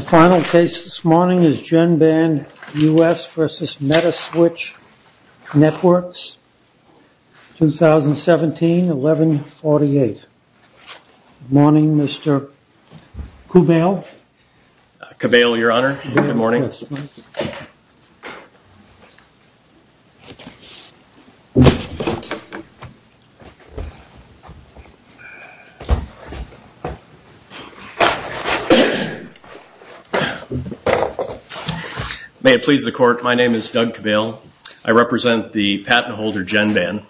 Final case this morning is Genband US v. Metaswitch Networks 2017-11-48. Good morning, Mr. Cabale. Cabale, your honor. Good morning. May it please the court, my name is Doug Cabale. I represent the patent holder Genband.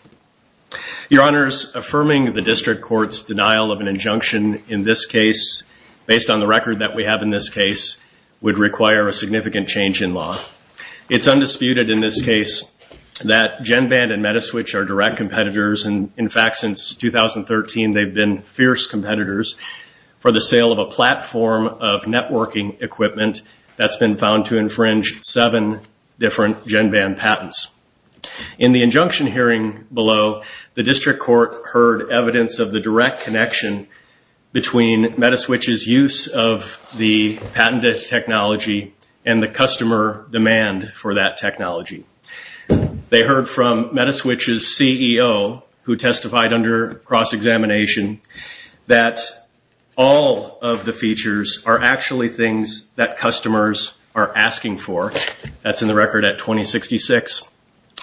Your honors, affirming the district court's denial of an injunction in this case, based on the record that we have in this case, would require a significant change in law. It's undisputed in this case that Genband and Metaswitch are direct competitors. In fact, since 2013, they've been fierce competitors for the sale of a platform of networking equipment that's been found to infringe seven different Genband patents. In the injunction hearing below, the district court heard evidence of the direct connection between Metaswitch's use of the patented technology and the customer demand for that technology. They heard from Metaswitch's CEO, who testified under cross-examination, that all of the features are actually things that customers are asking for. That's in the record at 2066.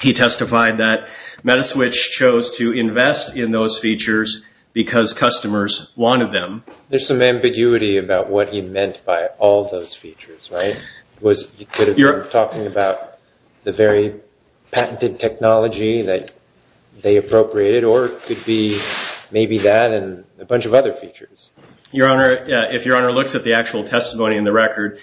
He testified that Metaswitch chose to invest in those features because customers wanted them. There's some ambiguity about what he meant by all those features, right? You're talking about the very patented technology that they appropriated, or it could be maybe that and a bunch of other features. Your honor, if your honor looks at the actual testimony in the record,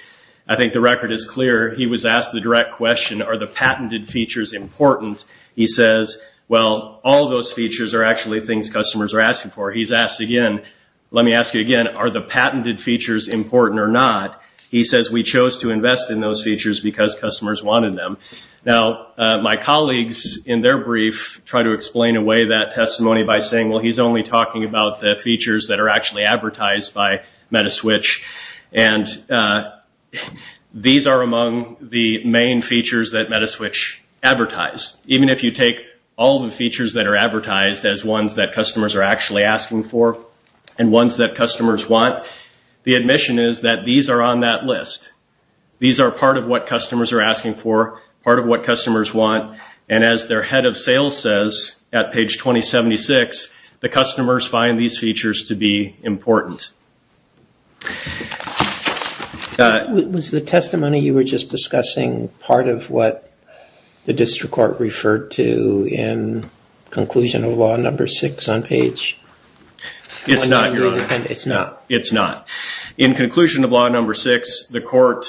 I think the record is clear. He was asked the direct question, are the patented features important? He says, well, all those features are actually things customers are asking for. He's asked again, let me ask you again, are the patented features important or not? He says, we chose to invest in those features because customers wanted them. Now, my colleagues in their brief try to explain away that testimony by saying, well, he's only talking about the features that are actually advertised by Metaswitch. And these are among the main features that Metaswitch advertised. Even if you take all the features that are advertised as ones that customers are actually asking for and ones that customers want, the admission is that these are on that list. These are part of what customers are asking for, part of what customers want. And as their head of sales says at page 2076, the customers find these features to be important. Was the testimony you were just discussing part of what the district court referred to in conclusion of law number six on page? It's not, Your Honor. It's not? It's not. In conclusion of law number six, the court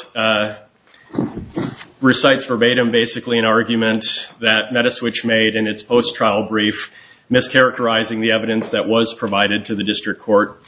recites verbatim basically an argument that Metaswitch made in its post-trial brief, mischaracterizing the evidence that was provided to the district court.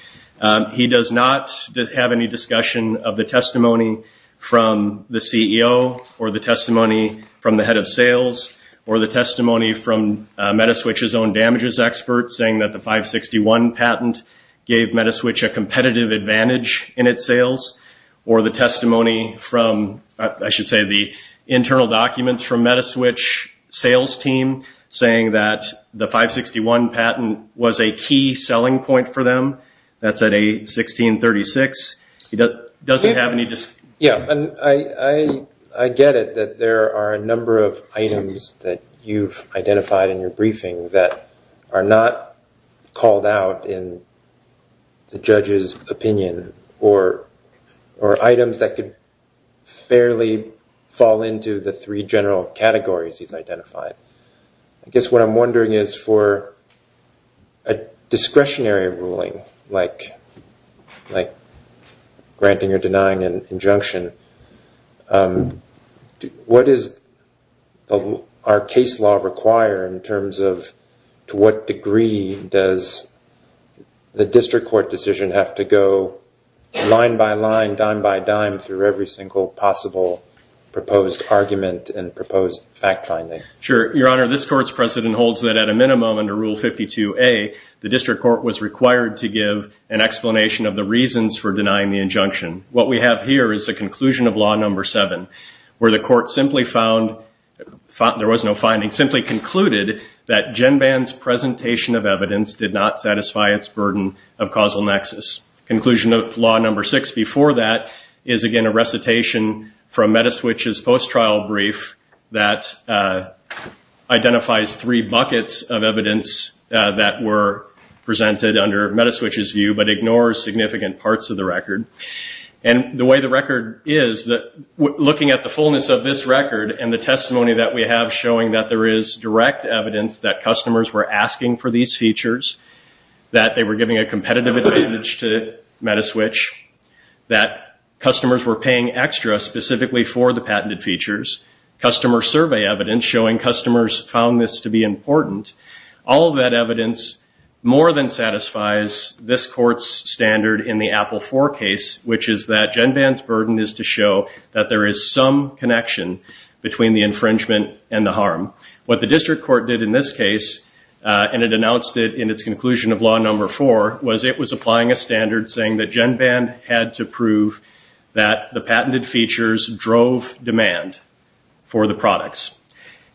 He does not have any discussion of the testimony from the CEO or the testimony from the head of sales or the testimony from Metaswitch's own damages expert saying that the 561 patent gave Metaswitch a competitive advantage in its sales or the testimony from, I should say, the internal documents from Metaswitch sales team saying that the 561 patent was a key selling point for them. That's at 816.36. He doesn't have any discussion. Yeah, and I get it that there are a number of items that you've identified in your briefing that are not called out in the judge's opinion or items that could barely fall into the three general categories he's identified. I guess what I'm wondering is for a discretionary ruling like granting or denying an injunction, what does our case law require in terms of to what degree does the district court decision have to go line by line, dime by dime through every single possible proposed argument and proposed fact finding? Sure. Your Honor, this court's precedent holds that at a minimum under Rule 52A, the district court was required to give an explanation of the reasons for denying the injunction. What we have here is a conclusion of Law No. 7 where the court simply found there was no finding, simply concluded that GenBan's presentation of evidence did not satisfy its burden of causal nexus. Conclusion of Law No. 6 before that is, again, a recitation from Metaswitch's post-trial brief that identifies three buckets of evidence that were presented under Metaswitch's view but ignores significant parts of the record. The way the record is, looking at the fullness of this record and the testimony that we have showing that there is direct evidence that customers were asking for these features, that they were giving a competitive advantage to Metaswitch, that customers were paying extra specifically for the patented features, customer survey evidence showing customers found this to be important, all of that evidence more than satisfies this court's standard in the Apple IV case, which is that GenBan's burden is to show that there is some connection between the infringement and the harm. What the district court did in this case, and it announced it in its conclusion of Law No. 4, was it was applying a standard saying that GenBan had to prove that the patented features drove demand for the products.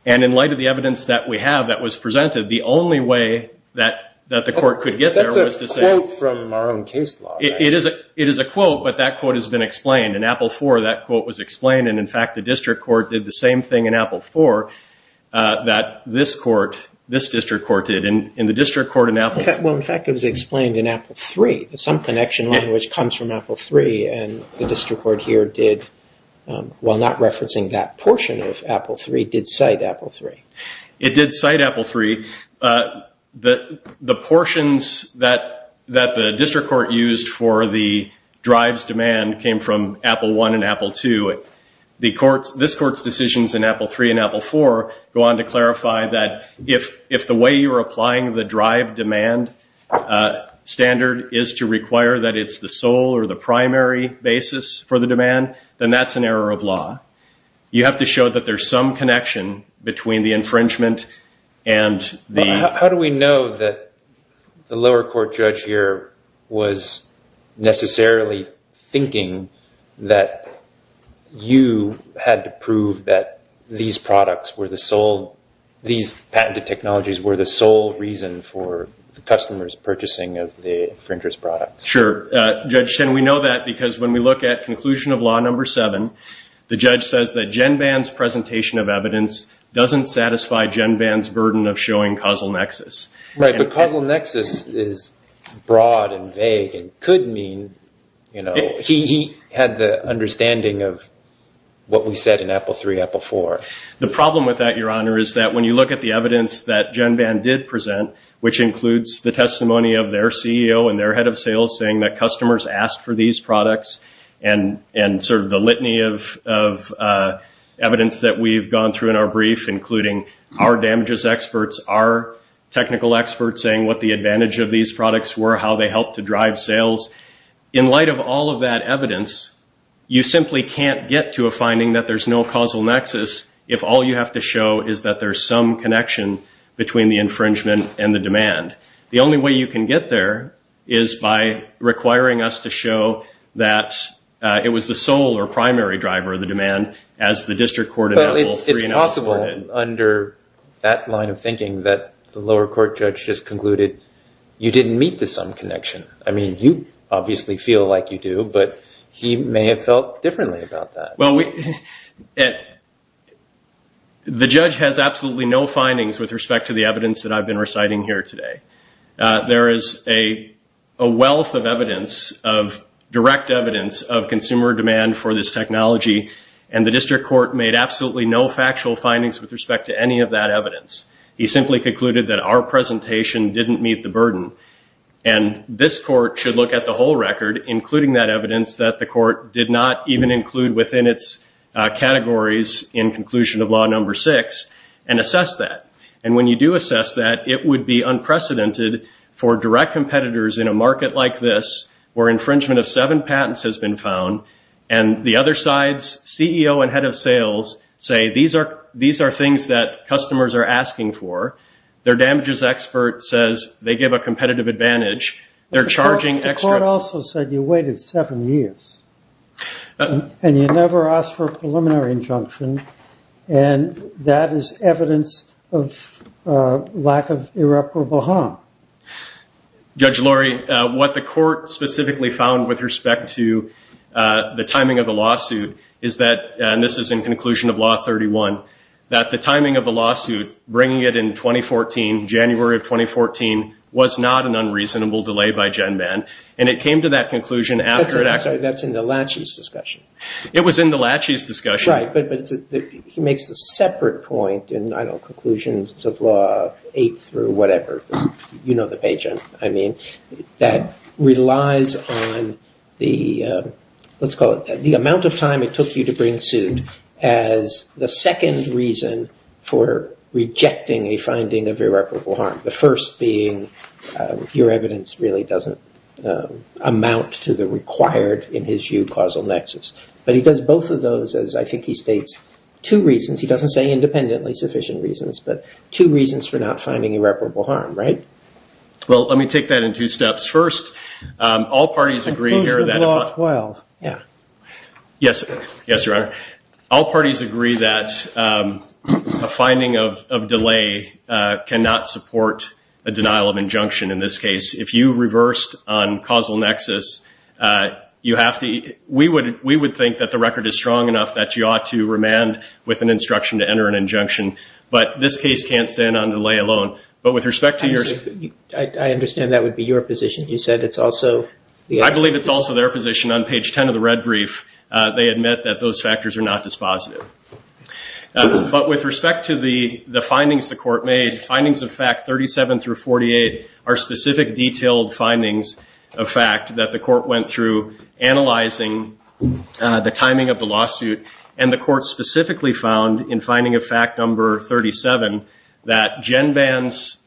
In light of the evidence that we have that was presented, the only way that the court could get there was to say- That's a quote from our own case law. It is a quote, but that quote has been explained. In Apple IV, that quote was explained. In fact, the district court did the same thing in Apple IV that this district court did. In the district court in Apple- In fact, it was explained in Apple III. Some connection language comes from Apple III. The district court here did, while not referencing that portion of Apple III, did cite Apple III. It did cite Apple III. The portions that the district court used for the drives demand came from Apple I and Apple II. This court's decisions in Apple III and Apple IV go on to clarify that if the way you're applying the drive demand standard is to require that it's the sole or the primary basis for the demand, then that's an error of law. You have to show that there's some connection between the infringement and the- How do we know that the lower court judge here was necessarily thinking that you had to prove that these products were the sole- Sure. Judge Chen, we know that because when we look at conclusion of law number seven, the judge says that GenBan's presentation of evidence doesn't satisfy GenBan's burden of showing causal nexus. Right, but causal nexus is broad and vague and could mean he had the understanding of what we said in Apple III, Apple IV. The problem with that, Your Honor, is that when you look at the evidence that GenBan did present, which includes the testimony of their CEO and their head of sales saying that customers asked for these products and the litany of evidence that we've gone through in our brief, including our damages experts, our technical experts saying what the advantage of these products were, how they helped to drive sales. In light of all of that evidence, you simply can't get to a finding that there's no causal nexus if all you have to show is that there's some connection between the infringement and the demand. The only way you can get there is by requiring us to show that it was the sole or primary driver of the demand as the district court- But it's possible under that line of thinking that the lower court judge just concluded you didn't meet the sum connection. I mean, you obviously feel like you do, but he may have felt differently about that. Well, the judge has absolutely no findings with respect to the evidence that I've been reciting here today. There is a wealth of evidence, of direct evidence of consumer demand for this technology, and the district court made absolutely no factual findings with respect to any of that evidence. He simply concluded that our presentation didn't meet the burden, and this court should look at the whole record, including that evidence that the court did not even include within its categories in conclusion of law number six, and assess that. And when you do assess that, it would be unprecedented for direct competitors in a market like this, where infringement of seven patents has been found, and the other sides, CEO and head of sales, say these are things that customers are asking for. Their damages expert says they give a competitive advantage. The court also said you waited seven years, and you never asked for a preliminary injunction, and that is evidence of lack of irreparable harm. Judge Laurie, what the court specifically found with respect to the timing of the lawsuit is that, and this is in conclusion of law 31, that the timing of the lawsuit, bringing it in 2014, January of 2014, was not an unreasonable delay by GenBan, and it came to that conclusion after it actually- I'm sorry, that's in the Lachey's discussion. It was in the Lachey's discussion. Right, but he makes a separate point in, I don't know, conclusions of law eight through whatever, you know the page I mean, that relies on the, let's call it the amount of time it took you to bring suit, as the second reason for rejecting a finding of irreparable harm. The first being your evidence really doesn't amount to the required, in his view, causal nexus. But he does both of those, as I think he states, two reasons. He doesn't say independently sufficient reasons, but two reasons for not finding irreparable harm, right? Well, let me take that in two steps. First, all parties agree here that- Conclusion of law 12. Yes, Your Honor. All parties agree that a finding of delay cannot support a denial of injunction in this case. If you reversed on causal nexus, you have to- we would think that the record is strong enough that you ought to remand with an instruction to enter an injunction. But this case can't stand on delay alone. But with respect to your- I understand that would be your position. You said it's also- they admit that those factors are not dispositive. But with respect to the findings the court made, findings of fact 37 through 48 are specific detailed findings of fact that the court went through analyzing the timing of the lawsuit, and the court specifically found in finding of fact number 37 that Genban's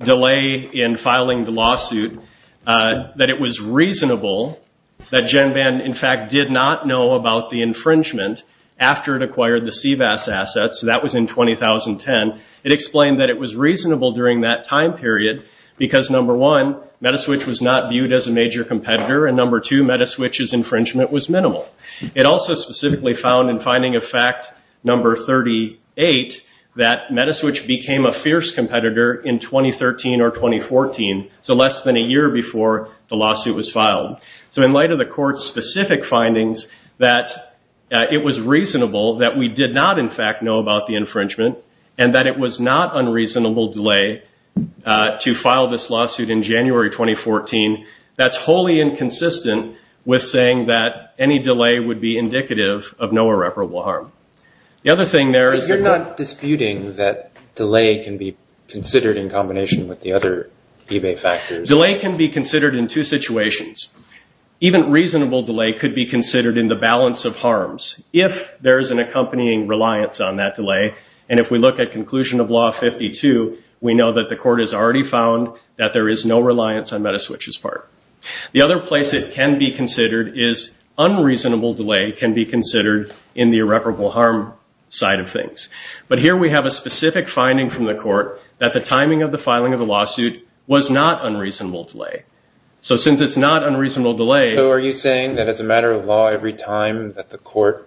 delay in filing the lawsuit, that it was reasonable that Genban, in fact, did not know about the infringement after it acquired the CVAS assets. That was in 2010. It explained that it was reasonable during that time period because, number one, Metaswitch was not viewed as a major competitor, and number two, Metaswitch's infringement was minimal. It also specifically found in finding of fact number 38 that Metaswitch became a fierce competitor in 2013 or 2014, so less than a year before the lawsuit was filed. So in light of the court's specific findings that it was reasonable that we did not, in fact, know about the infringement and that it was not unreasonable delay to file this lawsuit in January 2014, that's wholly inconsistent with saying that any delay would be indicative of no irreparable harm. The other thing there is- Delay can be considered in two situations. Even reasonable delay could be considered in the balance of harms if there is an accompanying reliance on that delay, and if we look at conclusion of law 52, we know that the court has already found that there is no reliance on Metaswitch's part. The other place it can be considered is unreasonable delay can be considered in the irreparable harm side of things. But here we have a specific finding from the court that the timing of the filing of the lawsuit was not unreasonable delay. So since it's not unreasonable delay- So are you saying that as a matter of law, every time that the court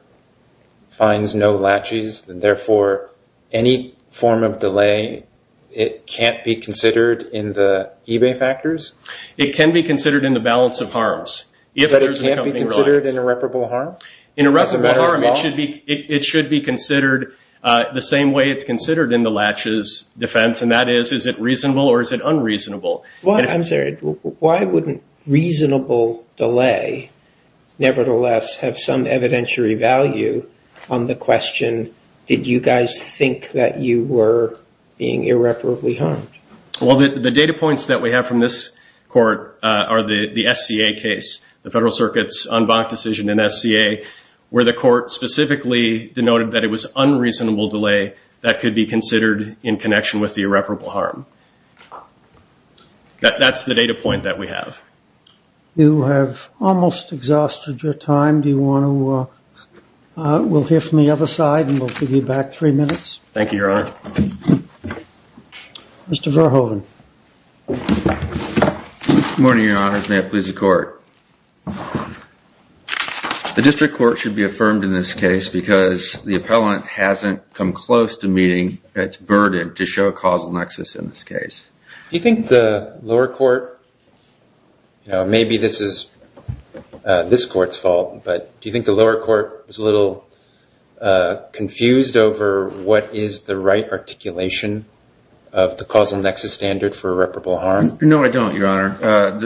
finds no latches, therefore any form of delay, it can't be considered in the eBay factors? It can be considered in the balance of harms. But it can't be considered in irreparable harm? In irreparable harm, it should be considered the same way it's considered in the latches defense, and that is, is it reasonable or is it unreasonable? I'm sorry. Why wouldn't reasonable delay nevertheless have some evidentiary value on the question, did you guys think that you were being irreparably harmed? Well, the data points that we have from this court are the SCA case, the Federal Circuit's en banc decision in SCA, where the court specifically denoted that it was unreasonable delay that could be considered in connection with the irreparable harm. That's the data point that we have. You have almost exhausted your time. Do you want to- we'll hear from the other side and we'll give you back three minutes. Thank you, Your Honor. Mr. Verhoeven. Good morning, Your Honors. May it please the court. The district court should be affirmed in this case because the appellant hasn't come close to meeting its burden to show a causal nexus in this case. Do you think the lower court, maybe this is this court's fault, but do you think the lower court was a little confused over what is the right articulation of the causal nexus standard for irreparable harm? No, I don't, Your Honor.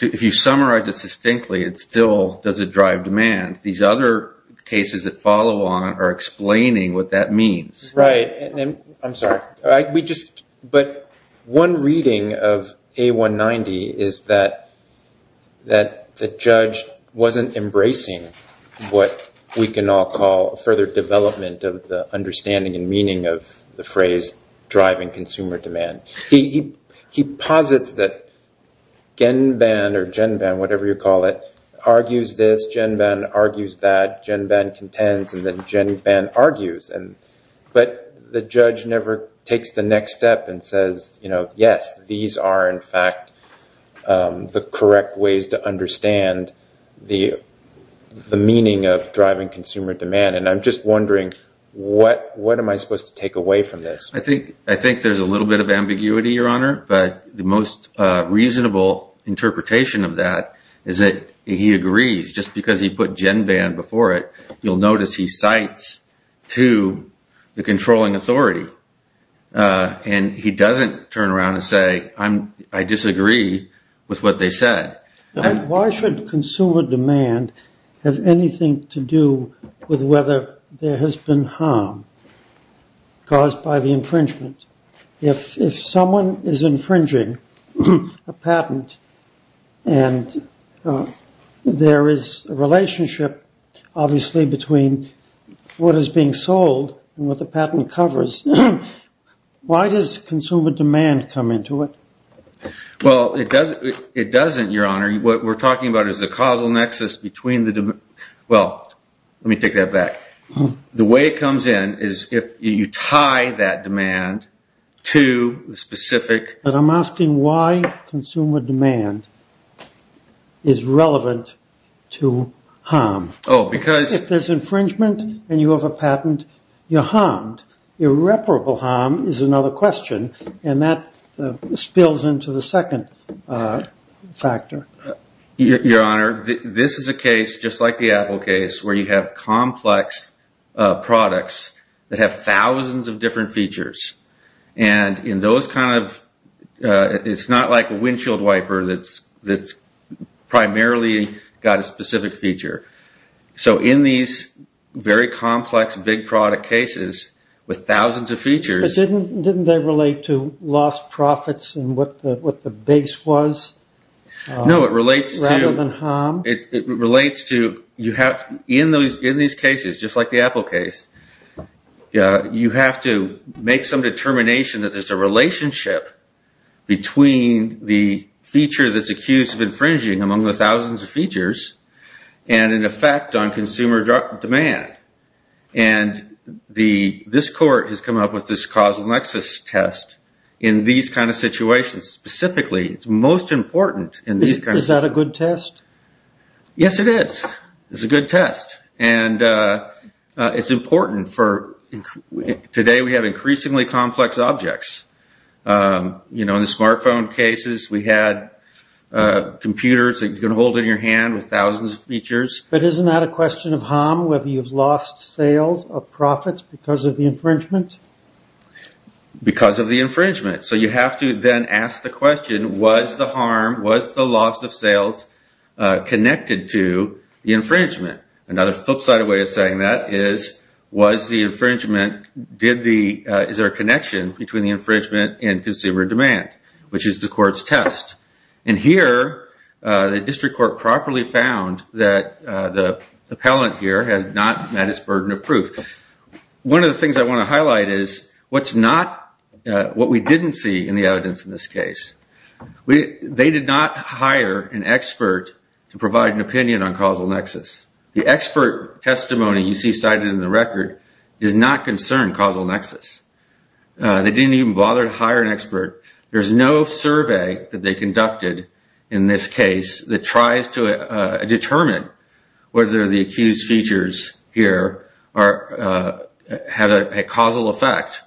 If you summarize it distinctly, it still doesn't drive demand. These other cases that follow on are explaining what that means. Right. I'm sorry. But one reading of A190 is that the judge wasn't embracing what we can all call further development of the understanding and meaning of the phrase driving consumer demand. He posits that GenBan or GenBan, whatever you call it, argues this, GenBan argues that, GenBan contends, and then GenBan argues. But the judge never takes the next step and says, yes, these are, in fact, the correct ways to understand the meaning of driving consumer demand. And I'm just wondering, what am I supposed to take away from this? I think there's a little bit of ambiguity, Your Honor, but the most reasonable interpretation of that is that he agrees. Just because he put GenBan before it, you'll notice he cites to the controlling authority. And he doesn't turn around and say, I disagree with what they said. Why should consumer demand have anything to do with whether there has been harm caused by the infringement? If someone is infringing a patent and there is a relationship, obviously, between what is being sold and what the patent covers, why does consumer demand come into it? Well, it doesn't, Your Honor. What we're talking about is the causal nexus between the demand. Well, let me take that back. The way it comes in is if you tie that demand to the specific... But I'm asking why consumer demand is relevant to harm. Oh, because... If there's infringement and you have a patent, you're harmed. Irreparable harm is another question, and that spills into the second factor. Your Honor, this is a case just like the Apple case where you have complex products that have thousands of different features. And in those kind of... It's not like a windshield wiper that's primarily got a specific feature. So in these very complex big product cases with thousands of features... But didn't they relate to lost profits and what the base was? No, it relates to... Rather than harm? It relates to... In these cases, just like the Apple case, you have to make some determination that there's a relationship between the feature that's accused of infringing among the thousands of features and an effect on consumer demand. And this court has come up with this causal nexus test in these kind of situations. Specifically, it's most important in these kind of... Is that a good test? Yes, it is. It's a good test. And it's important for... Today, we have increasingly complex objects. In the smartphone cases, we had computers that you can hold in your hand with thousands of features. But isn't that a question of harm, whether you've lost sales or profits because of the infringement? Because of the infringement. So you have to then ask the question, was the harm, was the loss of sales connected to the infringement? Another flipside way of saying that is, was the infringement... Is there a connection between the infringement and consumer demand? Which is the court's test. And here, the district court properly found that the appellant here has not met its burden of proof. One of the things I want to highlight is what's not... What we didn't see in the evidence in this case. They did not hire an expert to provide an opinion on causal nexus. The expert testimony you see cited in the record is not concerned causal nexus. They didn't even bother to hire an expert. There's no survey that they conducted in this case that tries to determine whether the accused features here had a causal effect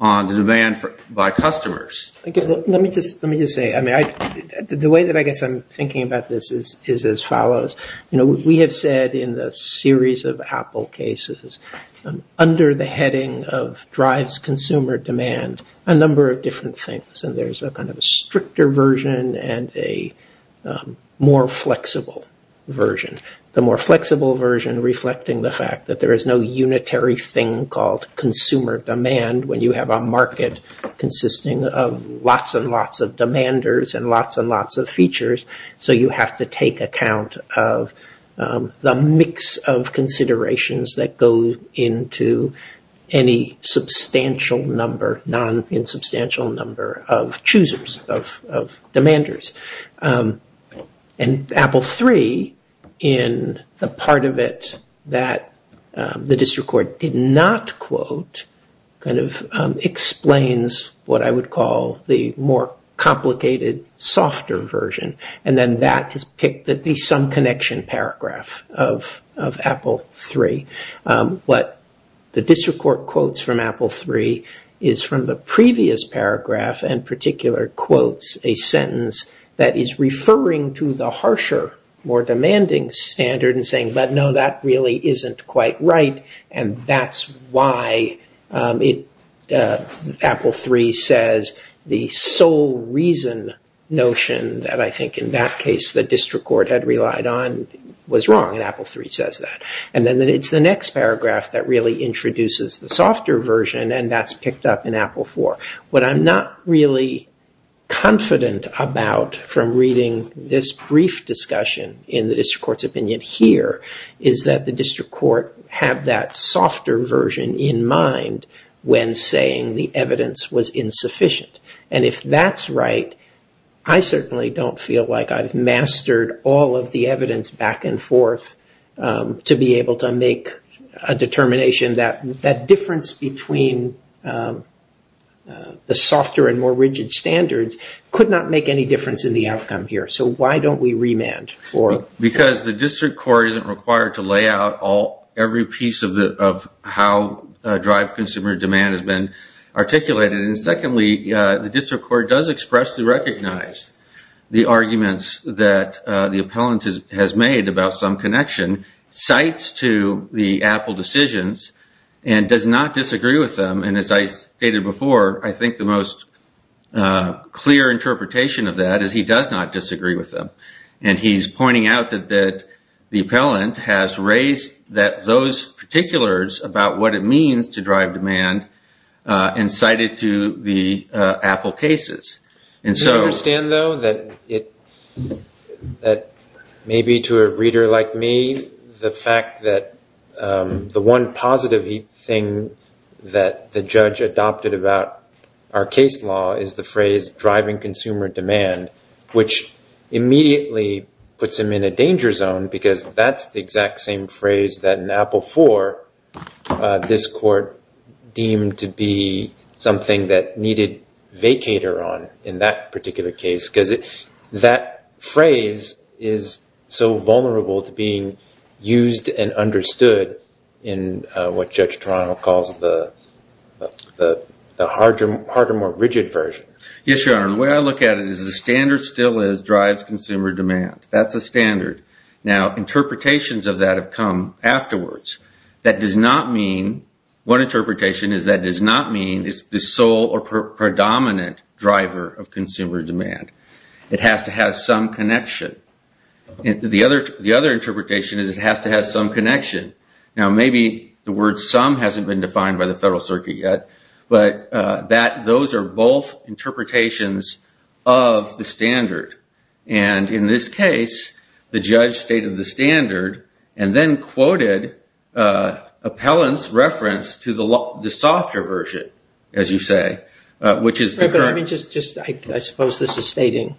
on the demand by customers. Let me just say, the way that I guess I'm thinking about this is as follows. We have said in the series of Apple cases, under the heading of drives consumer demand, a number of different things. And there's a kind of a stricter version and a more flexible version. The more flexible version reflecting the fact that there is no unitary thing called consumer demand when you have a market consisting of lots and lots of demanders and lots and lots of features. So you have to take account of the mix of considerations that go into any substantial number, non-substantial number of choosers, of demanders. And Apple 3, in the part of it that the district court did not quote, kind of explains what I would call the more complicated, softer version. And then that is picked at the some connection paragraph of Apple 3. What the district court quotes from Apple 3 is from the previous paragraph and particular quotes a sentence that is referring to the harsher, more demanding standard and saying, but no, that really isn't quite right and that's why Apple 3 says the sole reason notion that I think in that case the district court had relied on was wrong. And Apple 3 says that. And then it's the next paragraph that really introduces the softer version and that's picked up in Apple 4. What I'm not really confident about from reading this brief discussion in the district court's opinion here is that the district court had that softer version in mind when saying the evidence was insufficient. And if that's right, I certainly don't feel like I've mastered all of the evidence back and forth to be able to make a determination that that difference between the softer and more rigid standards could not make any difference in the outcome here. So why don't we remand? Because the district court isn't required to lay out every piece of how consumer demand has been articulated. And secondly, the district court does expressly recognize the arguments that the appellant has made about some connection, cites to the Apple decisions and does not disagree with them. And as I stated before, I think the most clear interpretation of that is he does not disagree with them. And he's pointing out that the appellant has raised that those particulars about what it means to drive demand incited to the Apple cases. And so I understand, though, that it that maybe to a reader like me, the fact that the one positive thing that the judge adopted about our case law is the phrase driving consumer demand, which immediately puts him in a danger zone, because that's the exact same phrase that an Apple for this court deemed to be something that needed vacator on. In that particular case, because that phrase is so vulnerable to being used and understood in what Judge Toronto calls the harder, more rigid version. Yes, Your Honor. The way I look at it is the standard still is drives consumer demand. That's a standard. Now, interpretations of that have come afterwards. That does not mean one interpretation is that does not mean it's the sole or predominant driver of consumer demand. It has to have some connection. The other interpretation is it has to have some connection. Now, maybe the word some hasn't been defined by the Federal Circuit yet, but that those are both interpretations of the standard. And in this case, the judge stated the standard and then quoted Appellant's reference to the softer version, as you say, which is the current. I suppose this is stating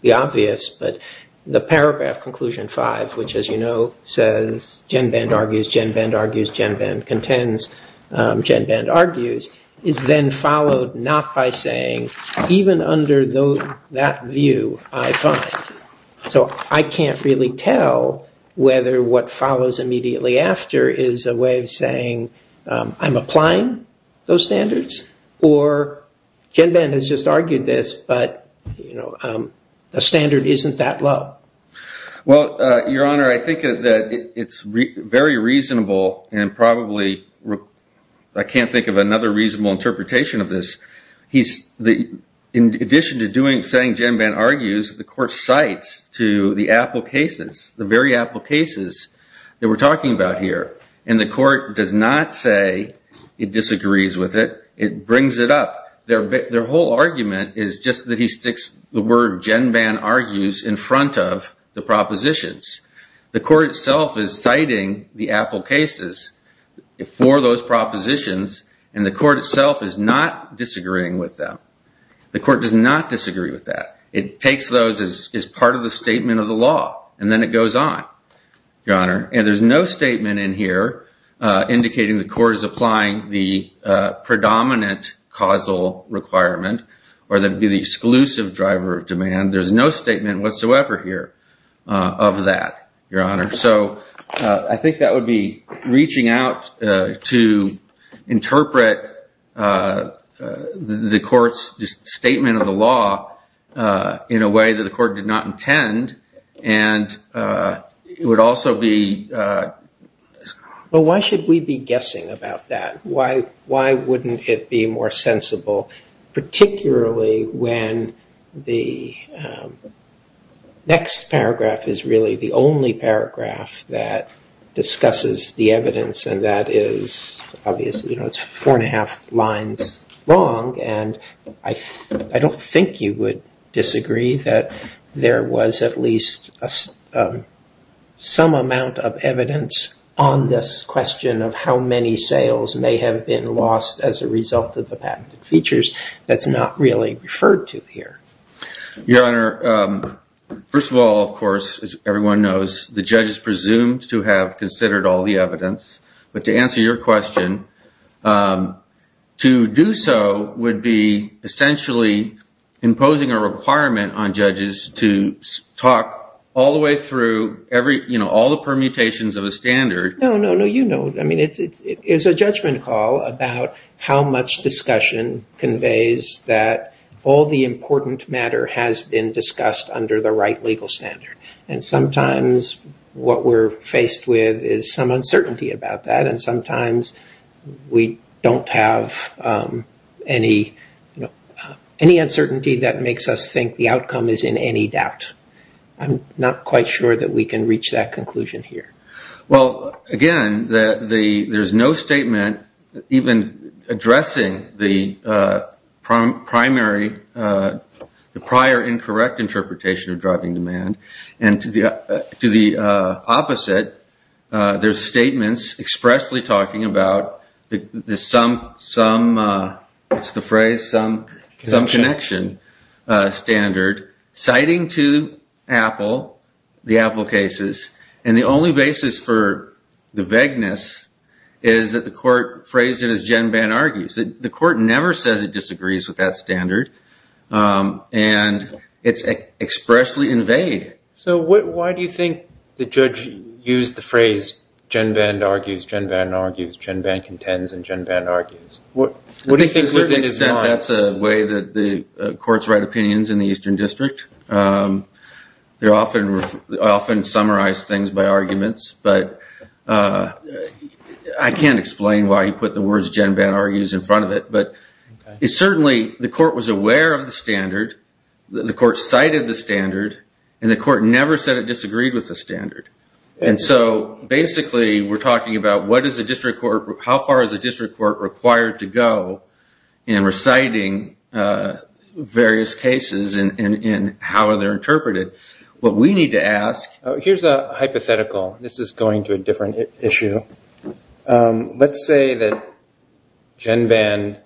the obvious, but the paragraph conclusion five, which, as you know, says GenBand argues, GenBand argues, GenBand contends, GenBand argues, is then followed not by saying, even under that view, I find. So I can't really tell whether what follows immediately after is a way of saying I'm applying those standards or GenBand has just argued this, but the standard isn't that low. Well, Your Honor, I think that it's very reasonable and probably I can't think of another reasonable interpretation of this. In addition to saying GenBand argues, the court cites to the Appell cases, the very Appell cases that we're talking about here, and the court does not say it disagrees with it. It brings it up. Their whole argument is just that he sticks the word GenBand argues in front of the propositions. The court itself is citing the Appell cases for those propositions, and the court itself is not disagreeing with them. The court does not disagree with that. It takes those as part of the statement of the law, and then it goes on, Your Honor. And there's no statement in here indicating the court is applying the predominant causal requirement or that it would be the exclusive driver of demand. There's no statement whatsoever here of that, Your Honor. I think that would be reaching out to interpret the court's statement of the law in a way that the court did not intend. And it would also be... But why should we be guessing about that? Why wouldn't it be more sensible, particularly when the next paragraph is really the only paragraph that discusses the evidence, and that is obviously, you know, it's four and a half lines long. And I don't think you would disagree that there was at least some amount of evidence on this question of how many sales may have been lost as a result of the patented features. That's not really referred to here. Your Honor, first of all, of course, as everyone knows, the judge is presumed to have considered all the evidence. But to answer your question, to do so would be essentially imposing a requirement on judges to talk all the way through every, you know, all the permutations of a standard. No, no, no, you know, I mean, it's a judgment call about how much discussion conveys that all the important matter has been discussed under the right legal standard. And sometimes what we're faced with is some uncertainty about that. And sometimes we don't have any uncertainty that makes us think the outcome is in any doubt. I'm not quite sure that we can reach that conclusion here. Well, again, there's no statement even addressing the primary, the prior incorrect interpretation of driving demand. And to the opposite, there's statements expressly talking about the some, what's the phrase? Some connection standard citing to Apple, the Apple cases. And the only basis for the vagueness is that the court phrased it as GenBan argues. The court never says it disagrees with that standard. And it's expressly invaded. So why do you think the judge used the phrase GenBan argues, GenBan argues, GenBan contends, and GenBan argues? To a certain extent, that's a way that the courts write opinions in the Eastern District. They often summarize things by arguments. But I can't explain why he put the words GenBan argues in front of it. But certainly the court was aware of the standard. The court cited the standard. And the court never said it disagreed with the standard. And so basically we're talking about what is the district court, how far is the district court required to go in reciting various cases and how are they interpreted? What we need to ask. Here's a hypothetical. This is going to a different issue. Let's say that GenBan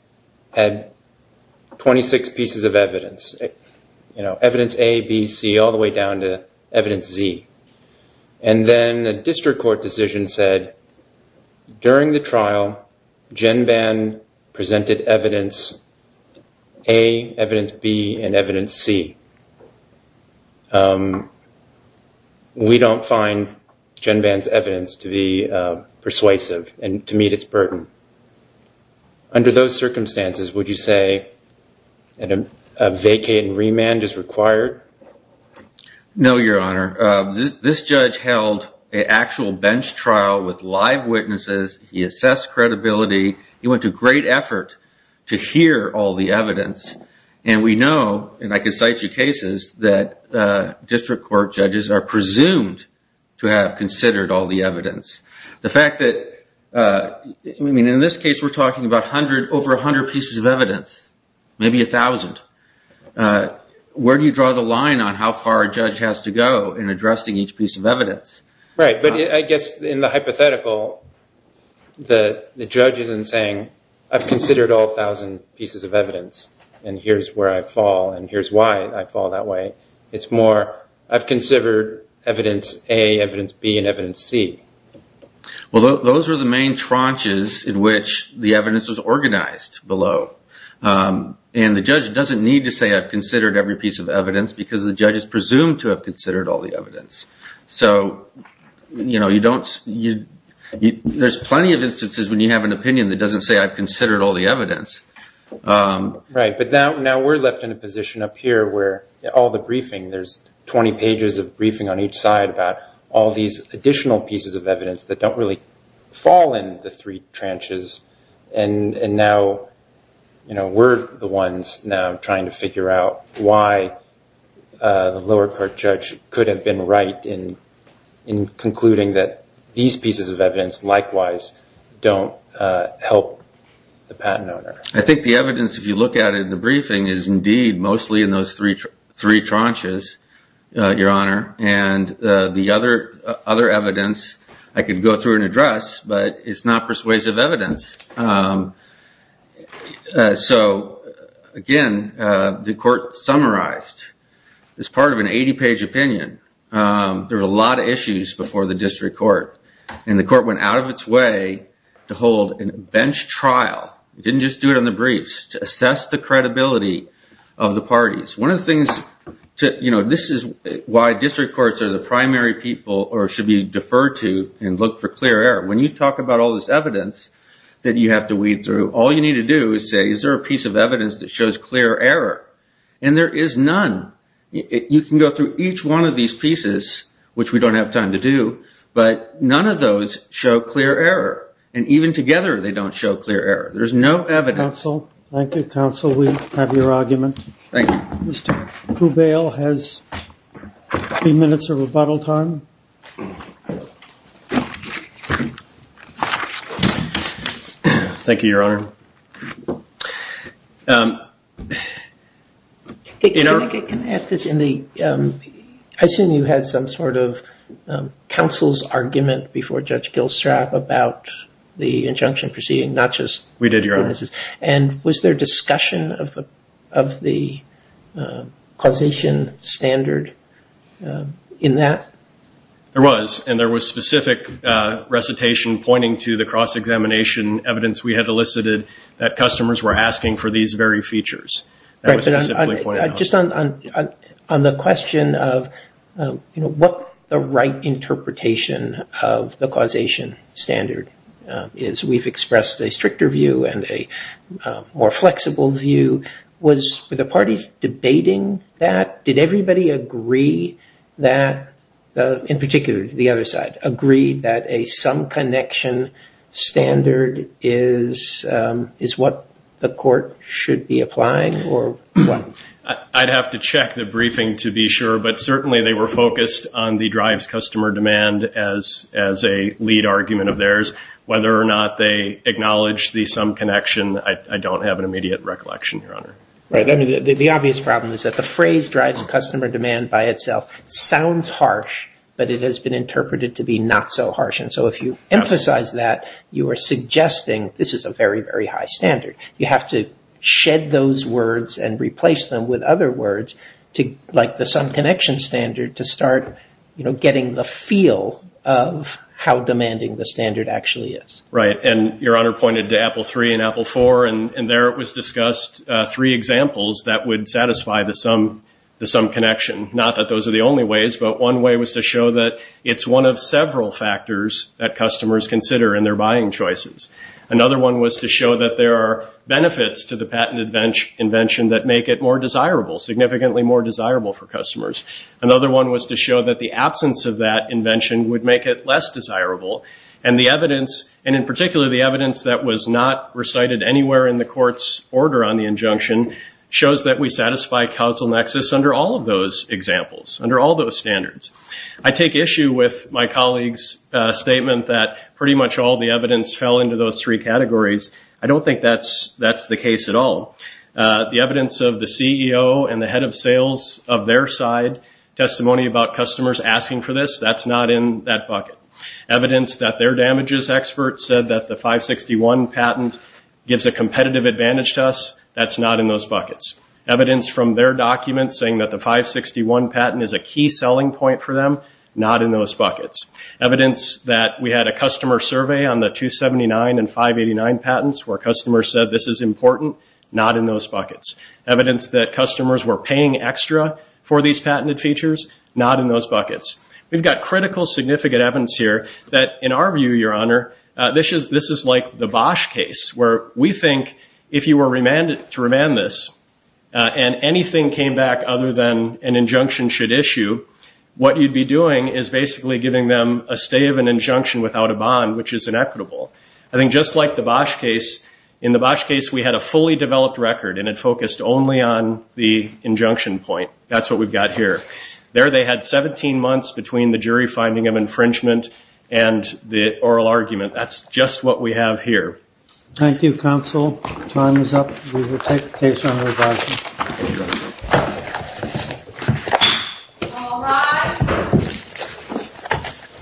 had 26 pieces of evidence. Evidence A, B, C, all the way down to evidence Z. And then a district court decision said during the trial GenBan presented evidence A, evidence B, and evidence C. We don't find GenBan's evidence to be persuasive and to meet its burden. Under those circumstances, would you say a vacate and remand is required? No, Your Honor. This judge held an actual bench trial with live witnesses. He assessed credibility. He went to great effort to hear all the evidence. And we know, and I can cite you cases, that district court judges are presumed to have considered all the evidence. The fact that in this case we're talking about over 100 pieces of evidence, maybe 1,000. Where do you draw the line on how far a judge has to go in addressing each piece of evidence? Right, but I guess in the hypothetical, the judge isn't saying, I've considered all 1,000 pieces of evidence, and here's where I fall, and here's why I fall that way. It's more, I've considered evidence A, evidence B, and evidence C. Well, those are the main tranches in which the evidence was organized below. And the judge doesn't need to say, I've considered every piece of evidence, because the judge is presumed to have considered all the evidence. So there's plenty of instances when you have an opinion that doesn't say, I've considered all the evidence. Right, but now we're left in a position up here where all the briefing, there's 20 pages of briefing on each side about all these additional pieces of evidence that don't really fall in the three tranches. And now we're the ones now trying to figure out why the lower court judge could have been right in concluding that these pieces of evidence, likewise, don't help the patent owner. I think the evidence, if you look at it in the briefing, is indeed mostly in those three tranches, Your Honor. And the other evidence, I could go through and address, but it's not persuasive evidence. So, again, the court summarized as part of an 80-page opinion. There were a lot of issues before the district court. And the court went out of its way to hold a bench trial. It didn't just do it on the briefs, to assess the credibility of the parties. One of the things, this is why district courts are the primary people, or should be deferred to, and look for clear error. When you talk about all this evidence that you have to weed through, all you need to do is say, is there a piece of evidence that shows clear error? And there is none. You can go through each one of these pieces, which we don't have time to do, but none of those show clear error. And even together, they don't show clear error. There's no evidence. Thank you, counsel. Thank you, counsel. We have your argument. Thank you. Mr. Cubale has three minutes of rebuttal time. Thank you, Your Honor. Can I ask this? I assume you had some sort of counsel's argument before Judge Gilstrap about the injunction proceeding, not just witnesses. And was there discussion of the causation standard in that? There was, and there was specific recitation pointing to the cross-examination evidence we had elicited that customers were asking for these very features. That was specifically pointed out. Just on the question of what the right interpretation of the causation standard is, we've expressed a stricter view and a more flexible view. Were the parties debating that? Did everybody agree that, in particular the other side, agree that a sum connection standard is what the court should be applying? I'd have to check the briefing to be sure, but certainly they were focused on the drives customer demand as a lead argument of theirs. Whether or not they acknowledged the sum connection, I don't have an immediate recollection, Your Honor. The obvious problem is that the phrase drives customer demand by itself sounds harsh, but it has been interpreted to be not so harsh. And so if you emphasize that, you are suggesting this is a very, very high standard. You have to shed those words and replace them with other words, like the sum connection standard, to start getting the feel of how demanding the standard actually is. Right. And Your Honor pointed to Apple III and Apple IV, and there it was discussed three examples that would satisfy the sum connection. Not that those are the only ways, but one way was to show that it's one of several factors that customers consider in their buying choices. Another one was to show that there are benefits to the patent invention that make it more desirable, significantly more desirable for customers. Another one was to show that the absence of that invention would make it less desirable. And the evidence, and in particular the evidence that was not recited anywhere in the court's order on the injunction, shows that we satisfy counsel nexus under all of those examples, under all those standards. I take issue with my colleague's statement that pretty much all the evidence fell into those three categories. I don't think that's the case at all. The evidence of the CEO and the head of sales of their side, testimony about customers asking for this, that's not in that bucket. Evidence that their damages expert said that the 561 patent gives a competitive advantage to us, that's not in those buckets. Evidence from their documents saying that the 561 patent is a key selling point for them, not in those buckets. Evidence that we had a customer survey on the 279 and 589 patents where customers said this is important, not in those buckets. Evidence that customers were paying extra for these patented features, not in those buckets. We've got critical significant evidence here that, in our view, Your Honor, this is like the Bosch case, where we think if you were to remand this and anything came back other than an injunction should issue, what you'd be doing is basically giving them a stay of an injunction without a bond, which is inequitable. I think just like the Bosch case, in the Bosch case we had a fully developed record and it focused only on the injunction point. That's what we've got here. There they had 17 months between the jury finding of infringement and the oral argument. That's just what we have here. Thank you, counsel. Time is up. We will take the case on revising.